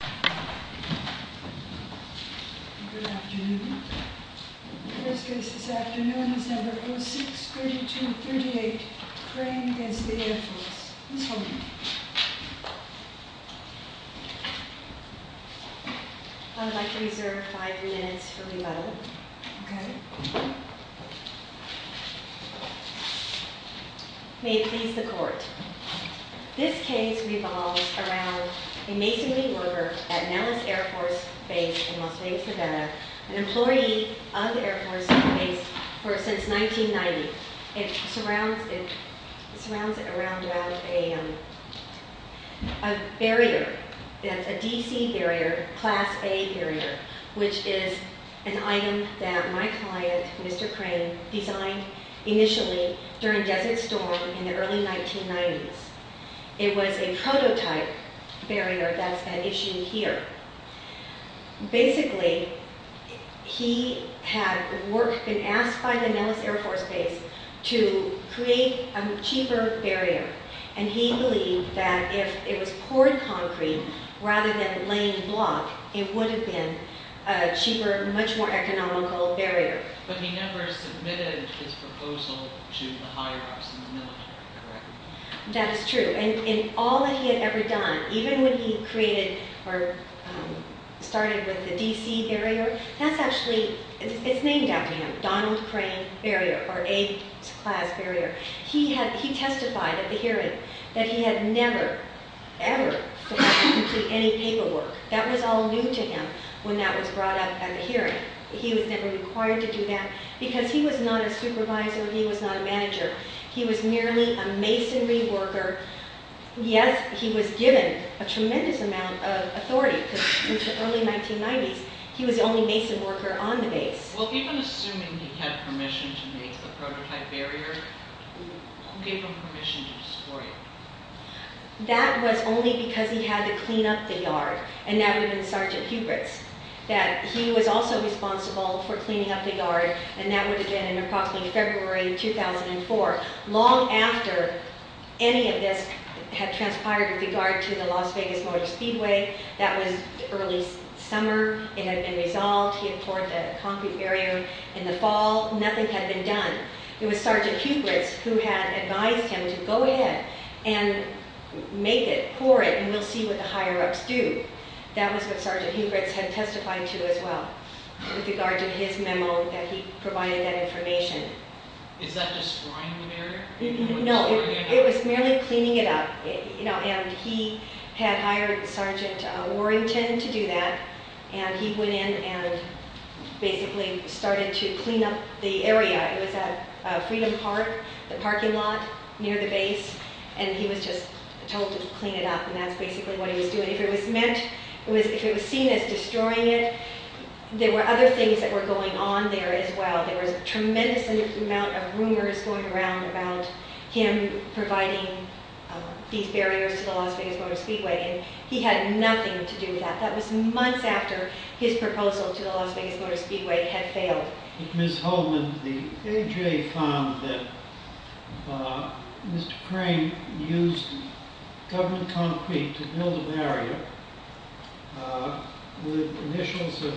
Good afternoon. The first case this afternoon is No. 06-3238, Crane v. Air Force. Ms. Holman. I would like to reserve five minutes for rebuttal. Okay. May it please the Court. This case revolves around a masonry worker at Nellis Air Force Base in Las Vegas, Nevada, an employee of the Air Force Base since 1990. It surrounds it around a barrier, that's a DC barrier, Class A barrier, which is an item that my client, Mr. Crane, designed initially during Desert Storm in the early 1990s. It was a prototype barrier that's been issued here. Basically, he had been asked by the Nellis Air Force Base to create a cheaper barrier, and he believed that if it was poured concrete rather than laying block, it would have been a cheaper, much more economical barrier. But he never submitted his proposal to the higher-ups in the military, correct? That is true. And all that he had ever done, even when he created or started with the DC barrier, that's actually, it's named after him, Donald Crane barrier, or A-Class barrier. He testified at the hearing that he had never, ever submitted any paperwork. That was all new to him when that was brought up at the hearing. He was never required to do that, because he was not a supervisor, he was not a manager. He was merely a masonry worker. Yes, he was given a tremendous amount of authority, because in the early 1990s, he was the only mason worker on the base. Well, even assuming he had permission to make the prototype barrier, who gave him permission to destroy it? That was only because he had to clean up the yard, and that would have been Sergeant Hubritz, that he was also responsible for cleaning up the yard, and that would have been in approximately February 2004. Long after any of this had transpired with regard to the Las Vegas Motor Speedway, that was early summer, it had been resolved, he had poured the concrete barrier in the fall, nothing had been done. It was Sergeant Hubritz who had advised him to go ahead and make it, pour it, and we'll see what the higher-ups do. That was what Sergeant Hubritz had testified to as well, with regard to his memo that he provided that information. Is that destroying the barrier? No, it was merely cleaning it up, and he had hired Sergeant Warrington to do that, and he went in and basically started to clean up the area. It was at Freedom Park, the parking lot near the base, and he was just told to clean it up, and that's basically what he was doing. If it was seen as destroying it, there were other things that were going on there as well. There was a tremendous amount of rumors going around about him providing these barriers to the Las Vegas Motor Speedway, and he had nothing to do with that. That was months after his proposal to the Las Vegas Motor Speedway had failed. Ms. Holdman, the AJ found that Mr. Crane used government concrete to build a barrier with initials of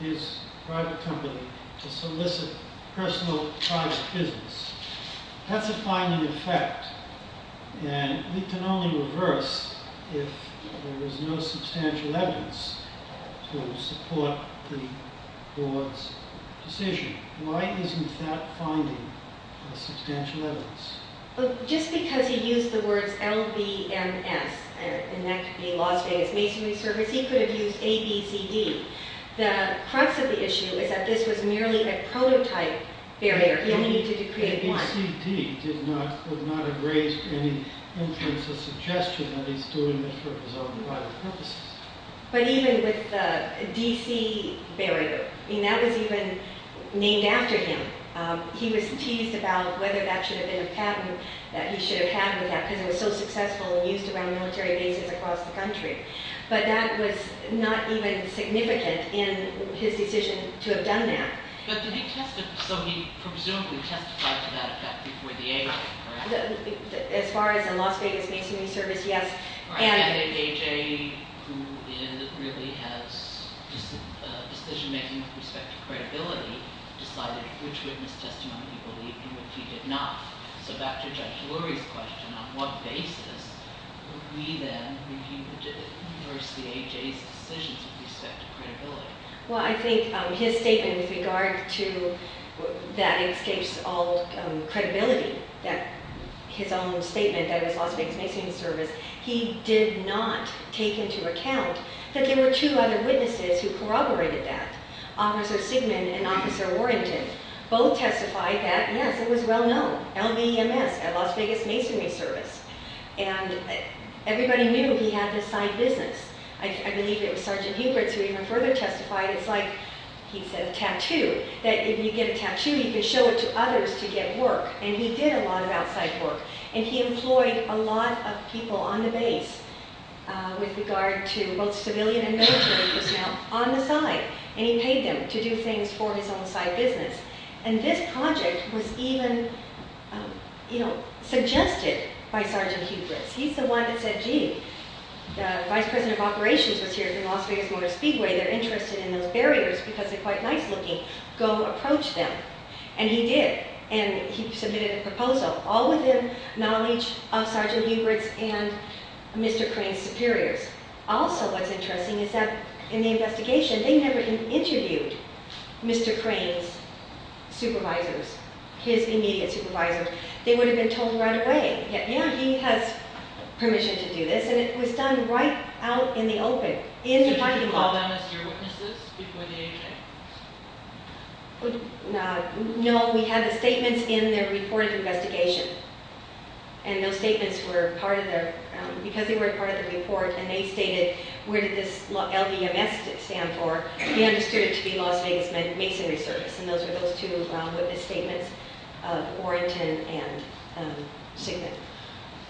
his private company to solicit personal private business. That's a finding in effect, and we can only reverse if there is no substantial evidence to support the board's decision. Why isn't that finding a substantial evidence? Just because he used the words LVMS, and that could be Las Vegas Masonry Service, he could have used ABCD. The crux of the issue is that this was merely a prototype barrier. ABCD would not have raised any influence or suggestion that he's doing this for his own private purposes. But even with the DC barrier, that was even named after him. He was teased about whether that should have been a pattern that he should have had with that because it was so successful and used around military bases across the country. But that was not even significant in his decision to have done that. But did he test it? So he presumably testified to that effect before the AJ, correct? As far as the Las Vegas Masonry Service, yes. I think AJ, who really has decision-making with respect to credibility, decided which witness testimony he believed and which he did not. So back to Judge Lurie's question, on what basis would we then, if he did it, reverse the AJ's decisions with respect to credibility? Well, I think his statement with regard to that escapes all credibility, his own statement that it was Las Vegas Masonry Service. He did not take into account that there were two other witnesses who corroborated that, Officer Sigman and Officer Warrington. Both testified that, yes, it was well known, LVMS, Las Vegas Masonry Service. And everybody knew he had this side business. I believe it was Sergeant Huberts who even further testified, it's like he said, a tattoo. That if you get a tattoo, you can show it to others to get work. And he did a lot of outside work. And he employed a lot of people on the base with regard to both civilian and military personnel on the side. And he paid them to do things for his own side business. And this project was even, you know, suggested by Sergeant Huberts. He's the one that said, gee, the Vice President of Operations was here at the Las Vegas Motor Speedway. They're interested in those barriers because they're quite nice looking. Go approach them. And he did. And he submitted a proposal, all within knowledge of Sergeant Huberts and Mr. Crane's superiors. Also, what's interesting is that in the investigation, they never interviewed Mr. Crane's supervisors, his immediate supervisors. They would have been told right away, yeah, he has permission to do this. And it was done right out in the open, in the fighting hall. Did you call them as your witnesses before the AHA? No, we had the statements in their reported investigation. And those statements were part of their, because they were part of the report, and they stated, where did this LVMS stand for? He understood it to be Las Vegas Masonry Service. And those were those two witness statements, Warrington and Sigmund.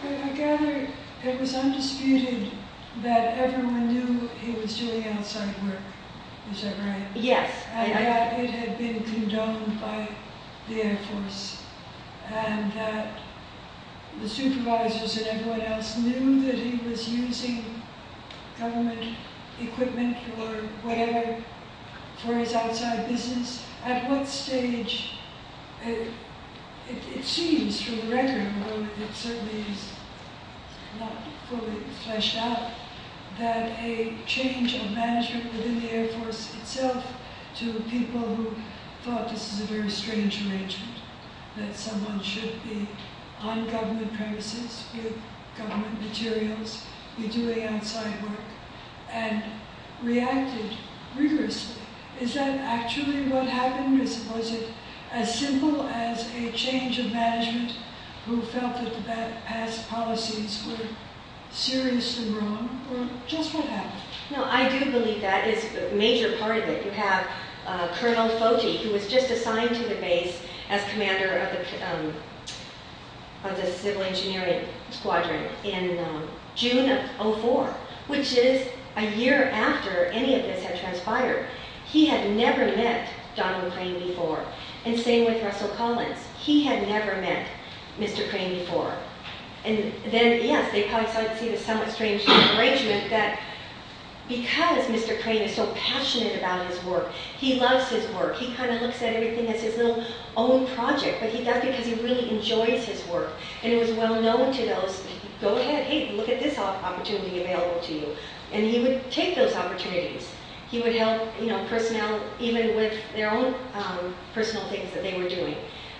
I gather it was undisputed that everyone knew he was doing outside work, is that right? Yes. And that it had been condoned by the Air Force. And that the supervisors and everyone else knew that he was using government equipment or whatever for his outside business. At what stage, it seems through the record, although it certainly is not fully fleshed out, that a change of management within the Air Force itself to people who thought this was a very strange arrangement, that someone should be on government premises with government materials, be doing outside work, and reacted rigorously. Is that actually what happened? Was it as simple as a change of management who felt that the past policies were seriously wrong? Or just what happened? No, I do believe that is a major part of it. You have Colonel Foti, who was just assigned to the base as commander of the civil engineering squadron in June of 2004, which is a year after any of this had transpired. He had never met Donald Crane before. And same with Russell Collins. He had never met Mr. Crane before. And then, yes, they probably started to see this somewhat strange arrangement, that because Mr. Crane is so passionate about his work, he loves his work, he kind of looks at everything as his little own project, but that's because he really enjoys his work. And he was well known to those, go ahead, hey, look at this opportunity available to you. And he would take those opportunities. He would help personnel even with their own personal things that they were doing.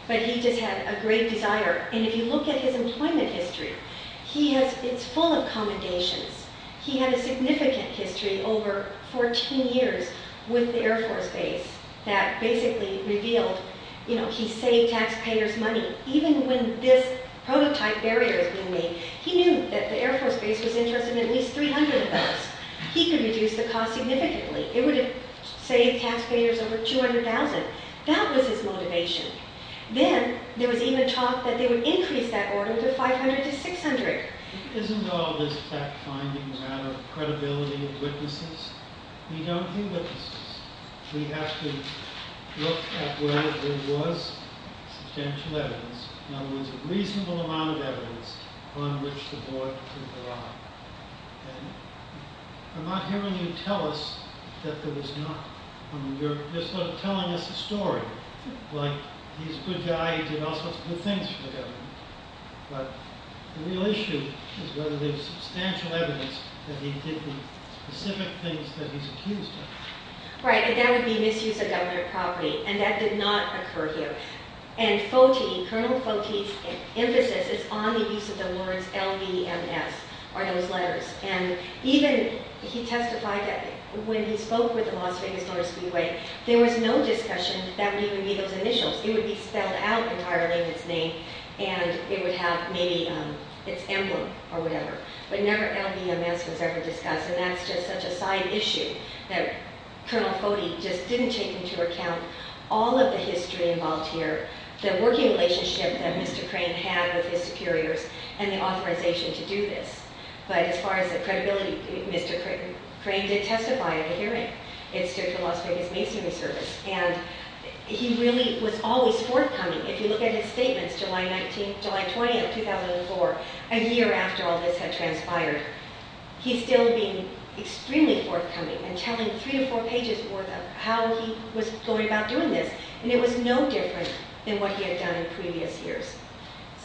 But he just had a great desire. And if you look at his employment history, it's full of commendations. He had a significant history over 14 years with the Air Force base that basically revealed, you know, he saved taxpayers money. Even when this prototype barrier was being made, he knew that the Air Force base was interested in at least 300 of those. He could reduce the cost significantly. It would have saved taxpayers over $200,000. That was his motivation. Then there was even talk that they would increase that order to 500 to 600. Isn't all this fact-finding a matter of credibility of witnesses? We don't have witnesses. We have to look at whether there was substantial evidence, in other words, a reasonable amount of evidence on which the board could rely. And I'm not hearing you tell us that there was not. I mean, you're sort of telling us a story, like he's a good guy. He did all sorts of good things for the government. But the real issue is whether there's substantial evidence that he did the specific things that he's accused of. Right, and that would be misuse of government property, and that did not occur here. And Foti, Colonel Foti's emphasis is on the use of the words LVMS, or those letters. And even he testified that when he spoke with the Las Vegas Motor Speedway, there was no discussion that that would even be those initials. It would be spelled out entirely in its name, and it would have maybe its emblem or whatever. But never LVMS was ever discussed, and that's just such a side issue that Colonel Foti just didn't take into account all of the history involved here, the working relationship that Mr. Crane had with his superiors, and the authorization to do this. But as far as the credibility, Mr. Crane did testify at a hearing. It's the Las Vegas Masonry Service, and he really was always forthcoming. If you look at his statements, July 19th, July 20th, 2004, a year after all this had transpired, he's still being extremely forthcoming and telling three or four pages worth of how he was going about doing this. And it was no different than what he had done in previous years.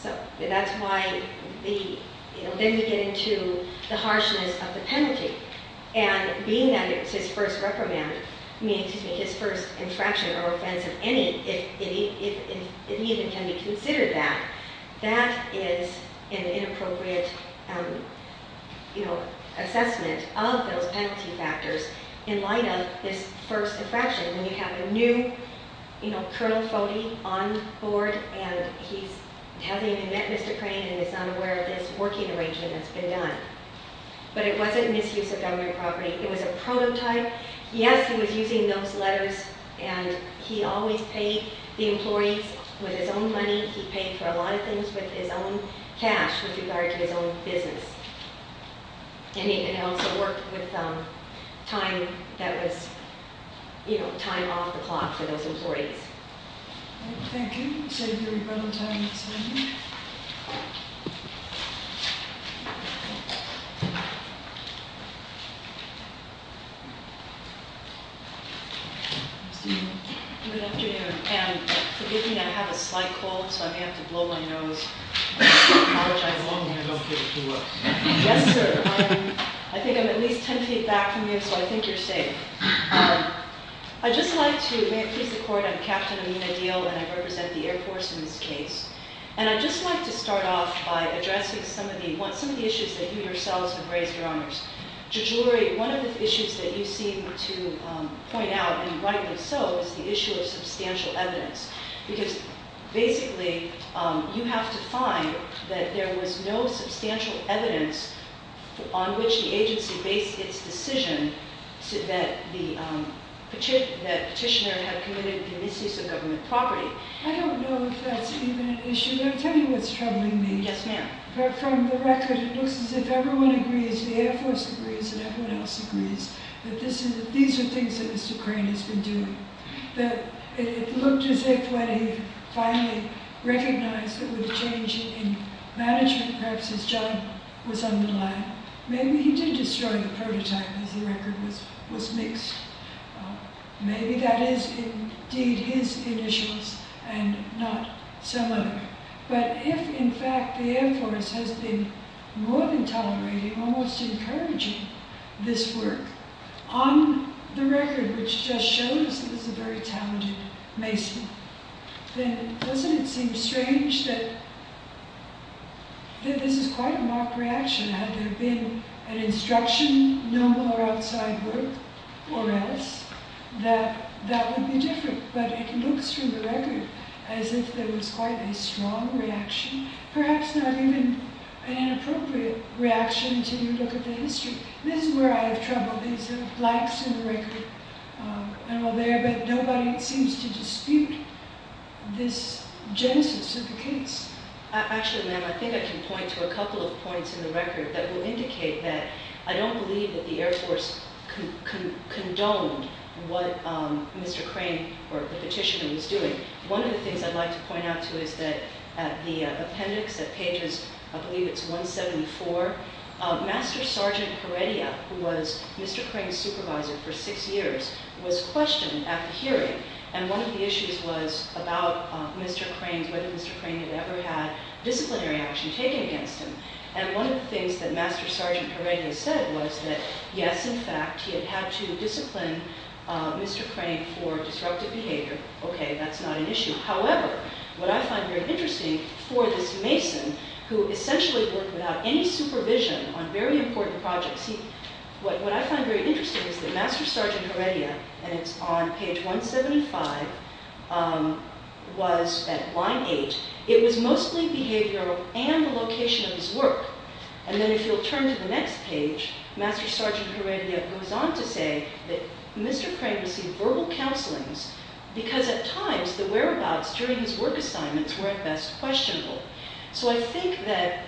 So that's why the, you know, then we get into the harshness of the penalty. And being that it was his first reprimand, meaning, excuse me, his first infraction or offense of any, if it even can be considered that, that is an inappropriate, you know, assessment of those penalty factors in light of this first infraction. When you have a new, you know, Colonel Foti on board, and he's having to admit Mr. Crane and is unaware of this working arrangement that's been done. But it wasn't a misuse of government property. It was a prototype. Yes, he was using those letters, and he always paid the employees with his own money. He paid for a lot of things with his own cash with regard to his own business. And he also worked with time that was, you know, time off the clock for those employees. Thank you. Good afternoon. And forgive me, I have a slight cold, so I may have to blow my nose. I apologize. As long as I don't get it too worse. Yes, sir. I think I'm at least ten feet back from you, so I think you're safe. I'd just like to, may it please the Court, I'm Captain Amina Deal, and I represent the Air Force in this case. And I'd just like to start off by addressing some of the issues that you yourselves have raised, Your Honors. Judge Lurie, one of the issues that you seem to point out, and rightly so, is the issue of substantial evidence. Because basically, you have to find that there was no substantial evidence on which the agency based its decision that the petitioner had committed the misuse of government property. I don't know if that's even an issue, but I'll tell you what's troubling me. Yes, ma'am. From the record, it looks as if everyone agrees, the Air Force agrees, and everyone else agrees, that these are things that Mr. Crane has been doing. It looked as if when he finally recognized that there was a change in management practices, John was on the line. Maybe he did destroy the prototype, as the record was mixed. Maybe that is indeed his initials, and not some other. But if, in fact, the Air Force has been more than tolerating, almost encouraging, this work, on the record, which just shows that this is a very talented mason, then doesn't it seem strange that this is quite a mock reaction? Had there been an instruction, no more outside work, or else, that that would be different. But it looks from the record as if there was quite a strong reaction, perhaps not even an inappropriate reaction to look at the history. This is where I have trouble. These are blanks in the record, but nobody seems to dispute this genesis of the case. Actually, ma'am, I think I can point to a couple of points in the record that will indicate that I don't believe that the Air Force condoned what Mr. Crane, or the petitioner, was doing. One of the things I'd like to point out to you is that at the appendix, at pages, I believe it's 174, Master Sergeant Heredia, who was Mr. Crane's supervisor for six years, was questioned at the hearing. And one of the issues was about Mr. Crane, whether Mr. Crane had ever had disciplinary action taken against him. And one of the things that Master Sergeant Heredia said was that, yes, in fact, he had had to discipline Mr. Crane for disruptive behavior. Okay, that's not an issue. However, what I find very interesting for this mason, who essentially worked without any supervision on very important projects, what I find very interesting is that Master Sergeant Heredia, and it's on page 175, was at line 8. It was mostly behavioral and the location of his work. And then if you'll turn to the next page, Master Sergeant Heredia goes on to say that Mr. Crane received verbal counselings because at times the whereabouts during his work assignments were at best questionable. So I think that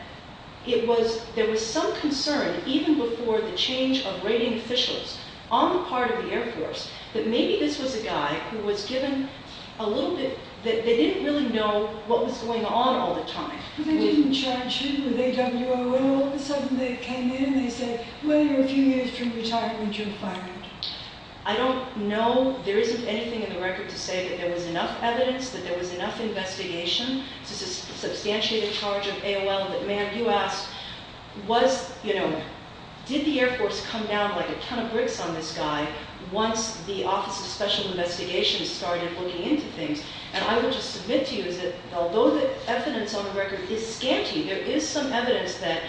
it was, there was some concern even before the change of rating officials on the part of the Air Force that maybe this was a guy who was given a little bit, that they didn't really know what was going on all the time. They didn't charge him with AWOL, all of a sudden they came in and they said, well, you're a few years from retirement, you're fired. I don't know, there isn't anything in the record to say that there was enough evidence, that there was enough investigation to substantiate a charge of AWOL, but ma'am, you asked, was, you know, did the Air Force come down like a ton of bricks on this guy once the Office of Special Investigations started looking into things? And I would just submit to you is that although the evidence on the record is scanty, there is some evidence that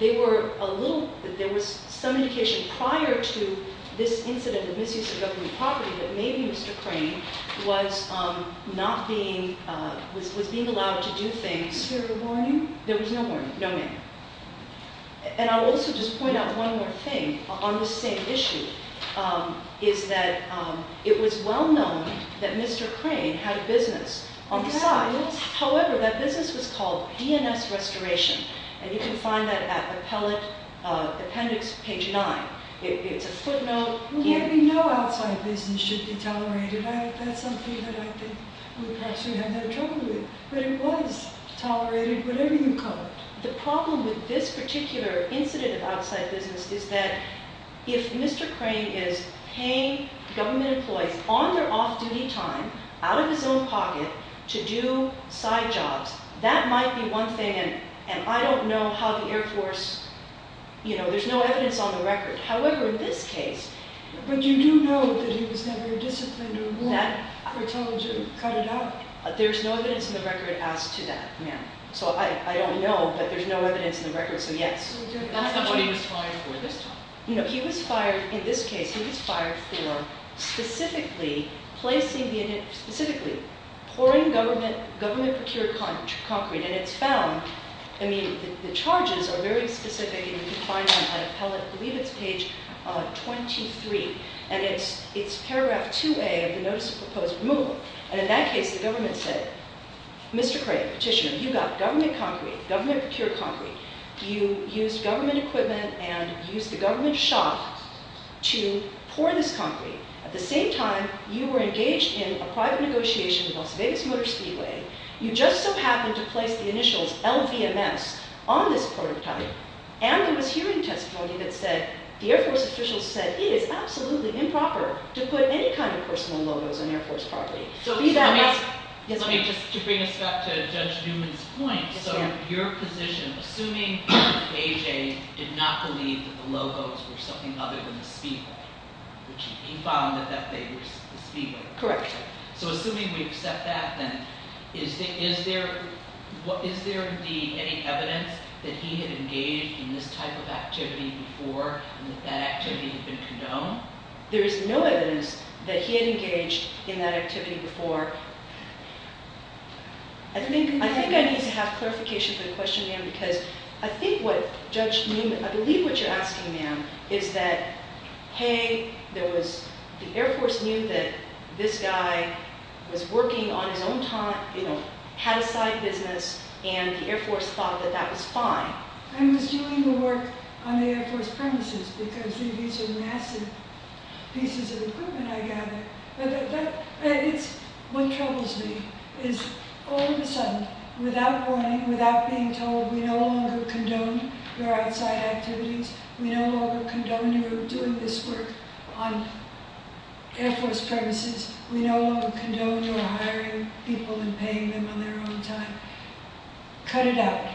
they were a little, that there was some indication prior to this incident of misuse of government property that maybe Mr. Crane was not being, was being allowed to do things. Was there a warning? There was no warning, no ma'am. And I'll also just point out one more thing on this same issue, is that it was well known that Mr. Crane had a business on the side. However, that business was called DNS Restoration, and you can find that at Appellate Appendix, page 9. It's a footnote. Well, maybe no outside business should be tolerated. That's something that I think we perhaps should have no trouble with. But it was tolerated, whatever you call it. The problem with this particular incident of outside business is that if Mr. Crane is paying government employees on their off-duty time, out of his own pocket, to do side jobs, that might be one thing, and I don't know how the Air Force, you know, there's no evidence on the record. However, in this case... But you do know that he was never disciplined or warned or told to cut it out? There's no evidence on the record as to that, ma'am. So I don't know, but there's no evidence on the record, so yes. That's not what he was fired for this time. In this case, he was fired for specifically pouring government-procured concrete, and it's found... I mean, the charges are very specific, and you can find them at Appellate, I believe it's page 23, and it's paragraph 2A of the Notice of Proposed Removal. And in that case, the government said, Mr. Crane, petitioner, you got government-procured concrete. You used government equipment and used the government shop to pour this concrete. At the same time, you were engaged in a private negotiation with Las Vegas Motor Speedway. You just so happened to place the initials LVMS on this prototype, and there was hearing testimony that said, the Air Force officials said, it is absolutely improper to put any kind of personal logos on Air Force property. Let me just, to bring us back to Judge Newman's point. So your position, assuming AJ did not believe that the logos were something other than the speedway, which he found that they were the speedway. Correct. So assuming we accept that, then is there any evidence that he had engaged in this type of activity before, and that that activity had been condoned? There is no evidence that he had engaged in that activity before. I think I need to have clarification for the question, ma'am, because I think what Judge Newman, I believe what you're asking, ma'am, is that, hey, there was, the Air Force knew that this guy was working on his own time, you know, had a side business, and the Air Force thought that that was fine. I was doing the work on the Air Force premises, because these are massive pieces of equipment, I gather. But it's, what troubles me is, all of a sudden, without warning, without being told, we no longer condone your outside activities, we no longer condone your doing this work on Air Force premises, we no longer condone your hiring people and paying them on their own time. Cut it out.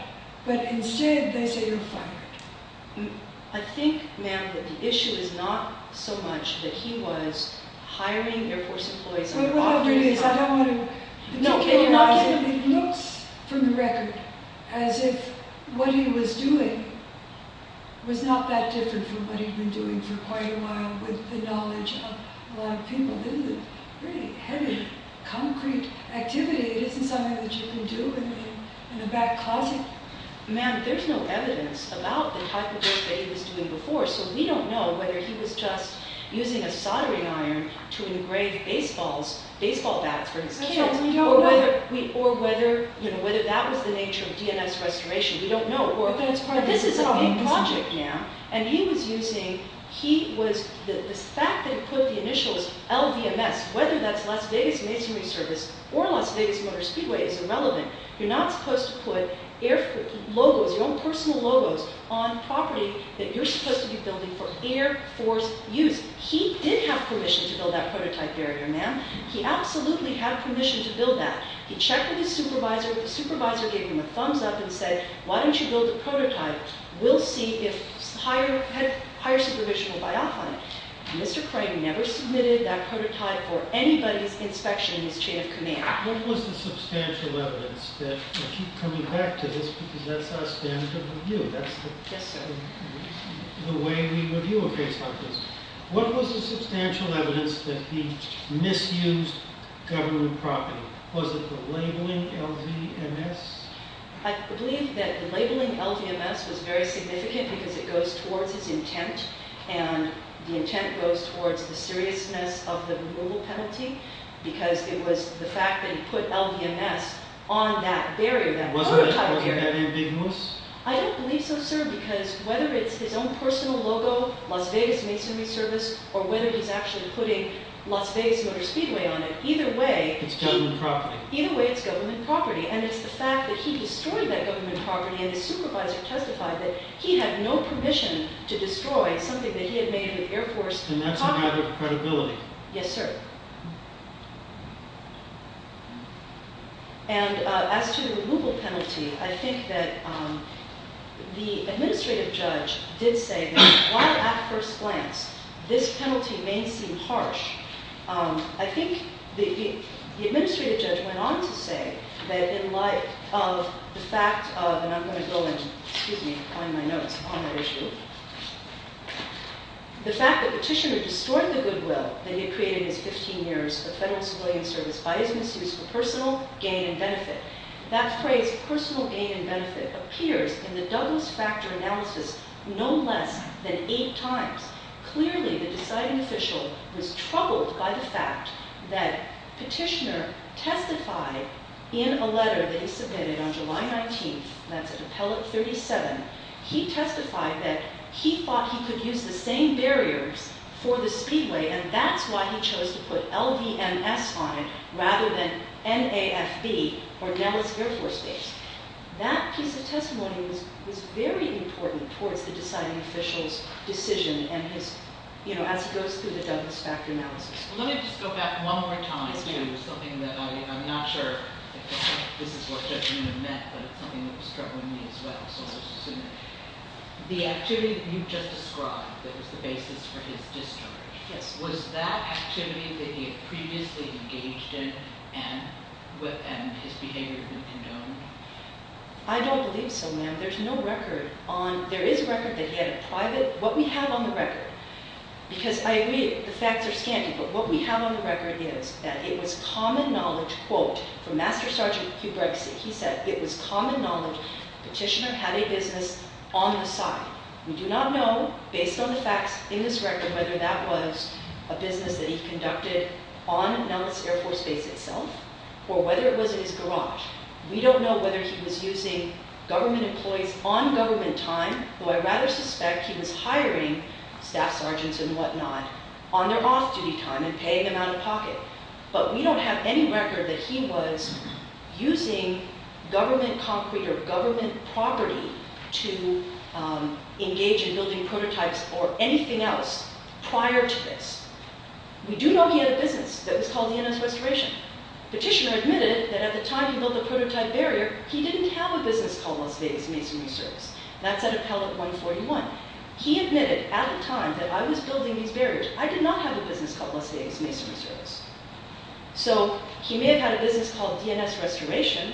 But instead, they say you're fired. I think, ma'am, that the issue is not so much that he was hiring Air Force employees on their own... Whatever it is, I don't want to... No, it's not... It looks, from the record, as if what he was doing was not that different from what he'd been doing for quite a while, with the knowledge of a lot of people. This is a pretty heavy, concrete activity. It isn't something that you can do in a back closet. Ma'am, there's no evidence about the type of work that he was doing before, so we don't know whether he was just using a soldering iron to engrave baseball bats for his kids, or whether that was the nature of DNS restoration. We don't know. But that's part of his job. This is a big project now, and he was using... The fact that he put the initials LVMS, whether that's Las Vegas Masonry Service or Las Vegas Motor Speedway, is irrelevant. You're not supposed to put your own personal logos on property that you're supposed to be building for Air Force use. He did have permission to build that prototype area, ma'am. He absolutely had permission to build that. He checked with his supervisor. The supervisor gave him a thumbs-up and said, Why don't you build a prototype? We'll see if higher supervision will buy off on it. Mr. Crane never submitted that prototype for anybody's inspection in his chain of command. What was the substantial evidence that... I keep coming back to this because that's our standard of review. That's the way we review a case like this. What was the substantial evidence that he misused government property? Was it the labeling LVMS? I believe that the labeling LVMS was very significant because it goes towards his intent, and the intent goes towards the seriousness of the removal penalty, because it was the fact that he put LVMS on that area, that prototype area. Wasn't it because of that ambiguous? I don't believe so, sir, because whether it's his own personal logo, Las Vegas Masonry Service, or whether he's actually putting Las Vegas Motor Speedway on it, either way... It's government property. Either way, it's government property. And it's the fact that he destroyed that government property, and his supervisor testified that he had no permission to destroy something that he had made with Air Force... And that's a matter of credibility. Yes, sir. And as to the removal penalty, I think that the administrative judge did say that, while at first glance this penalty may seem harsh, I think the administrative judge went on to say that in light of the fact of... And I'm going to go and, excuse me, find my notes on that issue. The fact that Petitioner destroyed the goodwill that he had created in his 15 years of federal civilian service by his misuse of personal gain and benefit. That phrase, personal gain and benefit, appears in the Douglas Factor analysis no less than eight times. Clearly, the deciding official was troubled by the fact that Petitioner testified in a letter that he submitted on July 19th. That's at Appellate 37. He testified that he thought he could use the same barriers for the speedway, and that's why he chose to put LVMS on it rather than NAFB, or Dallas Air Force Base. That piece of testimony was very important towards the deciding official's decision, as he goes through the Douglas Factor analysis. Let me just go back one more time to something that I'm not sure if this is what Judge Newman meant, but it's something that was troubling me as well. The activity that you just described that was the basis for his discharge, was that activity that he had previously engaged in and his behavior indomitable? I don't believe so, ma'am. There is a record that he had a private— What we have on the record, because I agree, the facts are scanty, but what we have on the record is that it was common knowledge, quote, from Master Sergeant Hubrexi, he said, it was common knowledge Petitioner had a business on the side. We do not know, based on the facts in this record, whether that was a business that he conducted on Dallas Air Force Base itself, or whether it was in his garage. We don't know whether he was using government employees on government time, though I rather suspect he was hiring staff sergeants and whatnot on their off-duty time and paying them out of pocket. But we don't have any record that he was using government concrete or government property to engage in building prototypes or anything else prior to this. We do know he had a business that was called DNS Restoration. Petitioner admitted that at the time he built the prototype barrier, he didn't have a business called Las Vegas Masonry Service. That's at Appellate 141. He admitted at the time that I was building these barriers, I did not have a business called Las Vegas Masonry Service. So he may have had a business called DNS Restoration,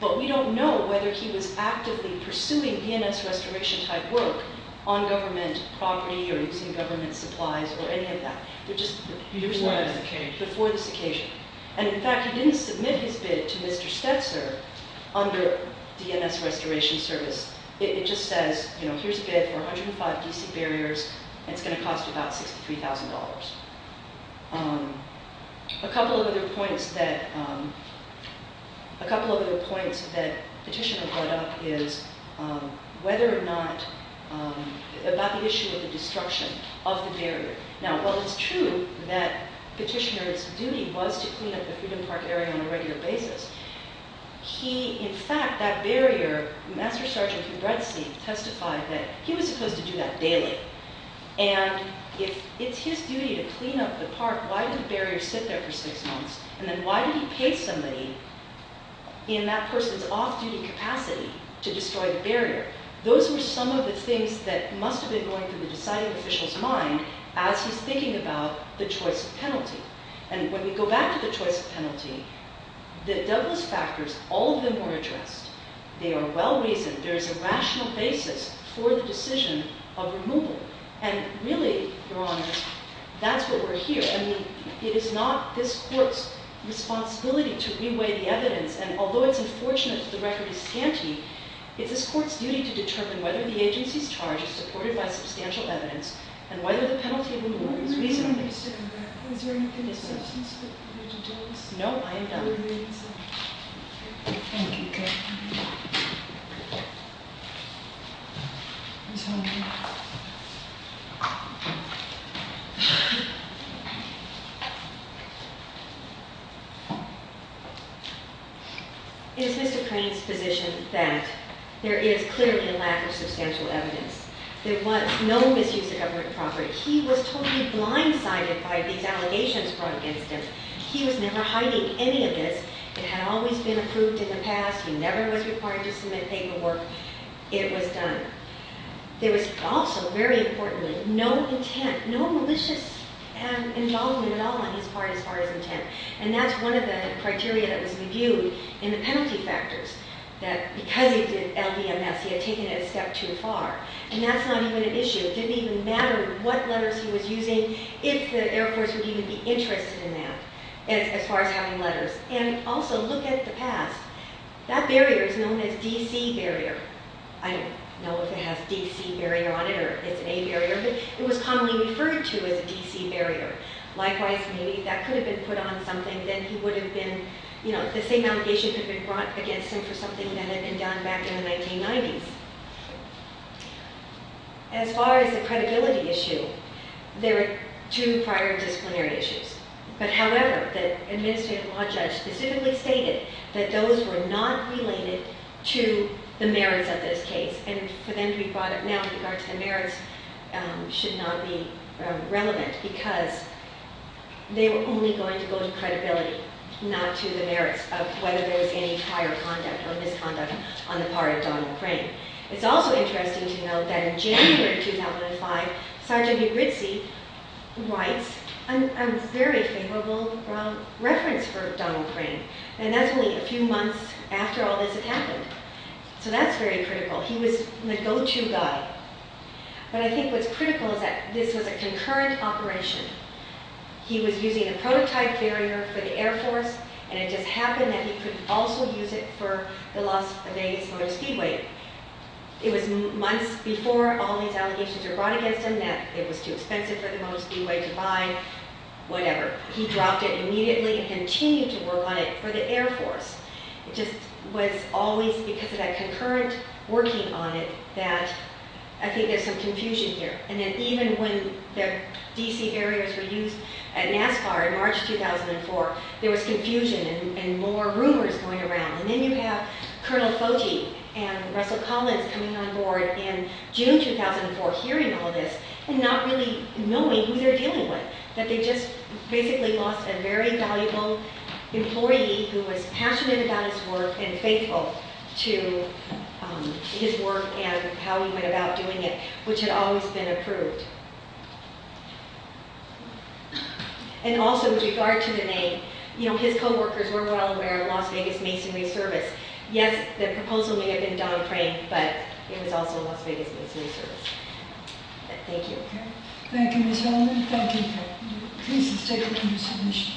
but we don't know whether he was actively pursuing DNS Restoration-type work on government property or using government supplies or any of that. Before this occasion. Before this occasion. And, in fact, he didn't submit his bid to Mr. Stetzer under DNS Restoration Service. It just says, you know, here's a bid for 105 DC barriers, and it's going to cost about $63,000. A couple of other points that Petitioner brought up is whether or not, about the issue of the destruction of the barrier. Now, while it's true that Petitioner's duty was to clean up the Freedom Park area on a regular basis, he, in fact, that barrier, Master Sergeant Hubertzi testified that he was supposed to do that daily. And if it's his duty to clean up the park, why did the barrier sit there for six months? And then why did he pay somebody in that person's off-duty capacity to destroy the barrier? Those were some of the things that must have been going through the deciding official's mind as he's thinking about the choice of penalty. And when we go back to the choice of penalty, the Douglas factors, all of them were addressed. They are well reasoned. There is a rational basis for the decision of removal. And really, Your Honor, that's what we're here. I mean, it is not this court's responsibility to re-weigh the evidence. And although it's unfortunate that the record is scanty, it's this court's duty to determine whether the agency's charge is supported by substantial evidence and whether the penalty of removal is reasonable. Is there anything in substance that you need to tell us? No, I am done. Thank you, Your Honor. It is Mr. Crane's position that there is clearly a lack of substantial evidence. There was no misuse of government property. He was totally blindsided by these allegations brought against him. He was never hiding any of this. It had always been approved in the past. He never was required to submit paperwork. It was done. There was also, very importantly, no intent, no malicious involvement at all on his part as far as intent. And that's one of the criteria that was reviewed in the penalty factors, that because he did LVMS, he had taken it a step too far. And that's not even an issue. It didn't even matter what letters he was using, if the Air Force would even be interested in that, as far as having letters. And also, look at the past. That barrier is known as D.C. Barrier. I don't know if it has D.C. Barrier on it or if it's a barrier, but it was commonly referred to as a D.C. Barrier. Likewise, maybe if that could have been put on something, then he would have been, you know, the same allegations had been brought against him for something that had been done back in the 1990s. As far as the credibility issue, there are two prior disciplinary issues. But however, the administrative law judge specifically stated that those were not related to the merits of this case. And for them to be brought up now in regards to the merits should not be relevant because they were only going to go to credibility, not to the merits of whether there was any prior conduct or misconduct on the part of Donald Crane. It's also interesting to note that in January 2005, Sergeant Ygritte writes a very favorable reference for Donald Crane. And that's only a few months after all this had happened. So that's very critical. He was the go-to guy. But I think what's critical is that this was a concurrent operation. He was using a prototype barrier for the Air Force, and it just happened that he could also use it for the loss of a base on a speedway. It was months before all these allegations were brought against him that it was too expensive for the motor speedway to ride, whatever. He dropped it immediately and continued to work on it for the Air Force. It just was always because of that concurrent working on it that I think there's some confusion here. And then even when the D.C. barriers were used at NASCAR in March 2004, there was confusion and more rumors going around. And then you have Colonel Foti and Russell Collins coming on board in June 2004, hearing all this and not really knowing who they're dealing with, that they just basically lost a very valuable employee who was passionate about his work and faithful to his work and how he went about doing it, which had always been approved. And also with regard to the name, you know, his co-workers were well aware of Las Vegas Masonry Service. Yes, the proposal may have been Don Crane, but it was also Las Vegas Masonry Service. Thank you. Thank you, Ms. Hellman. Thank you. Please, let's take a look at your submission.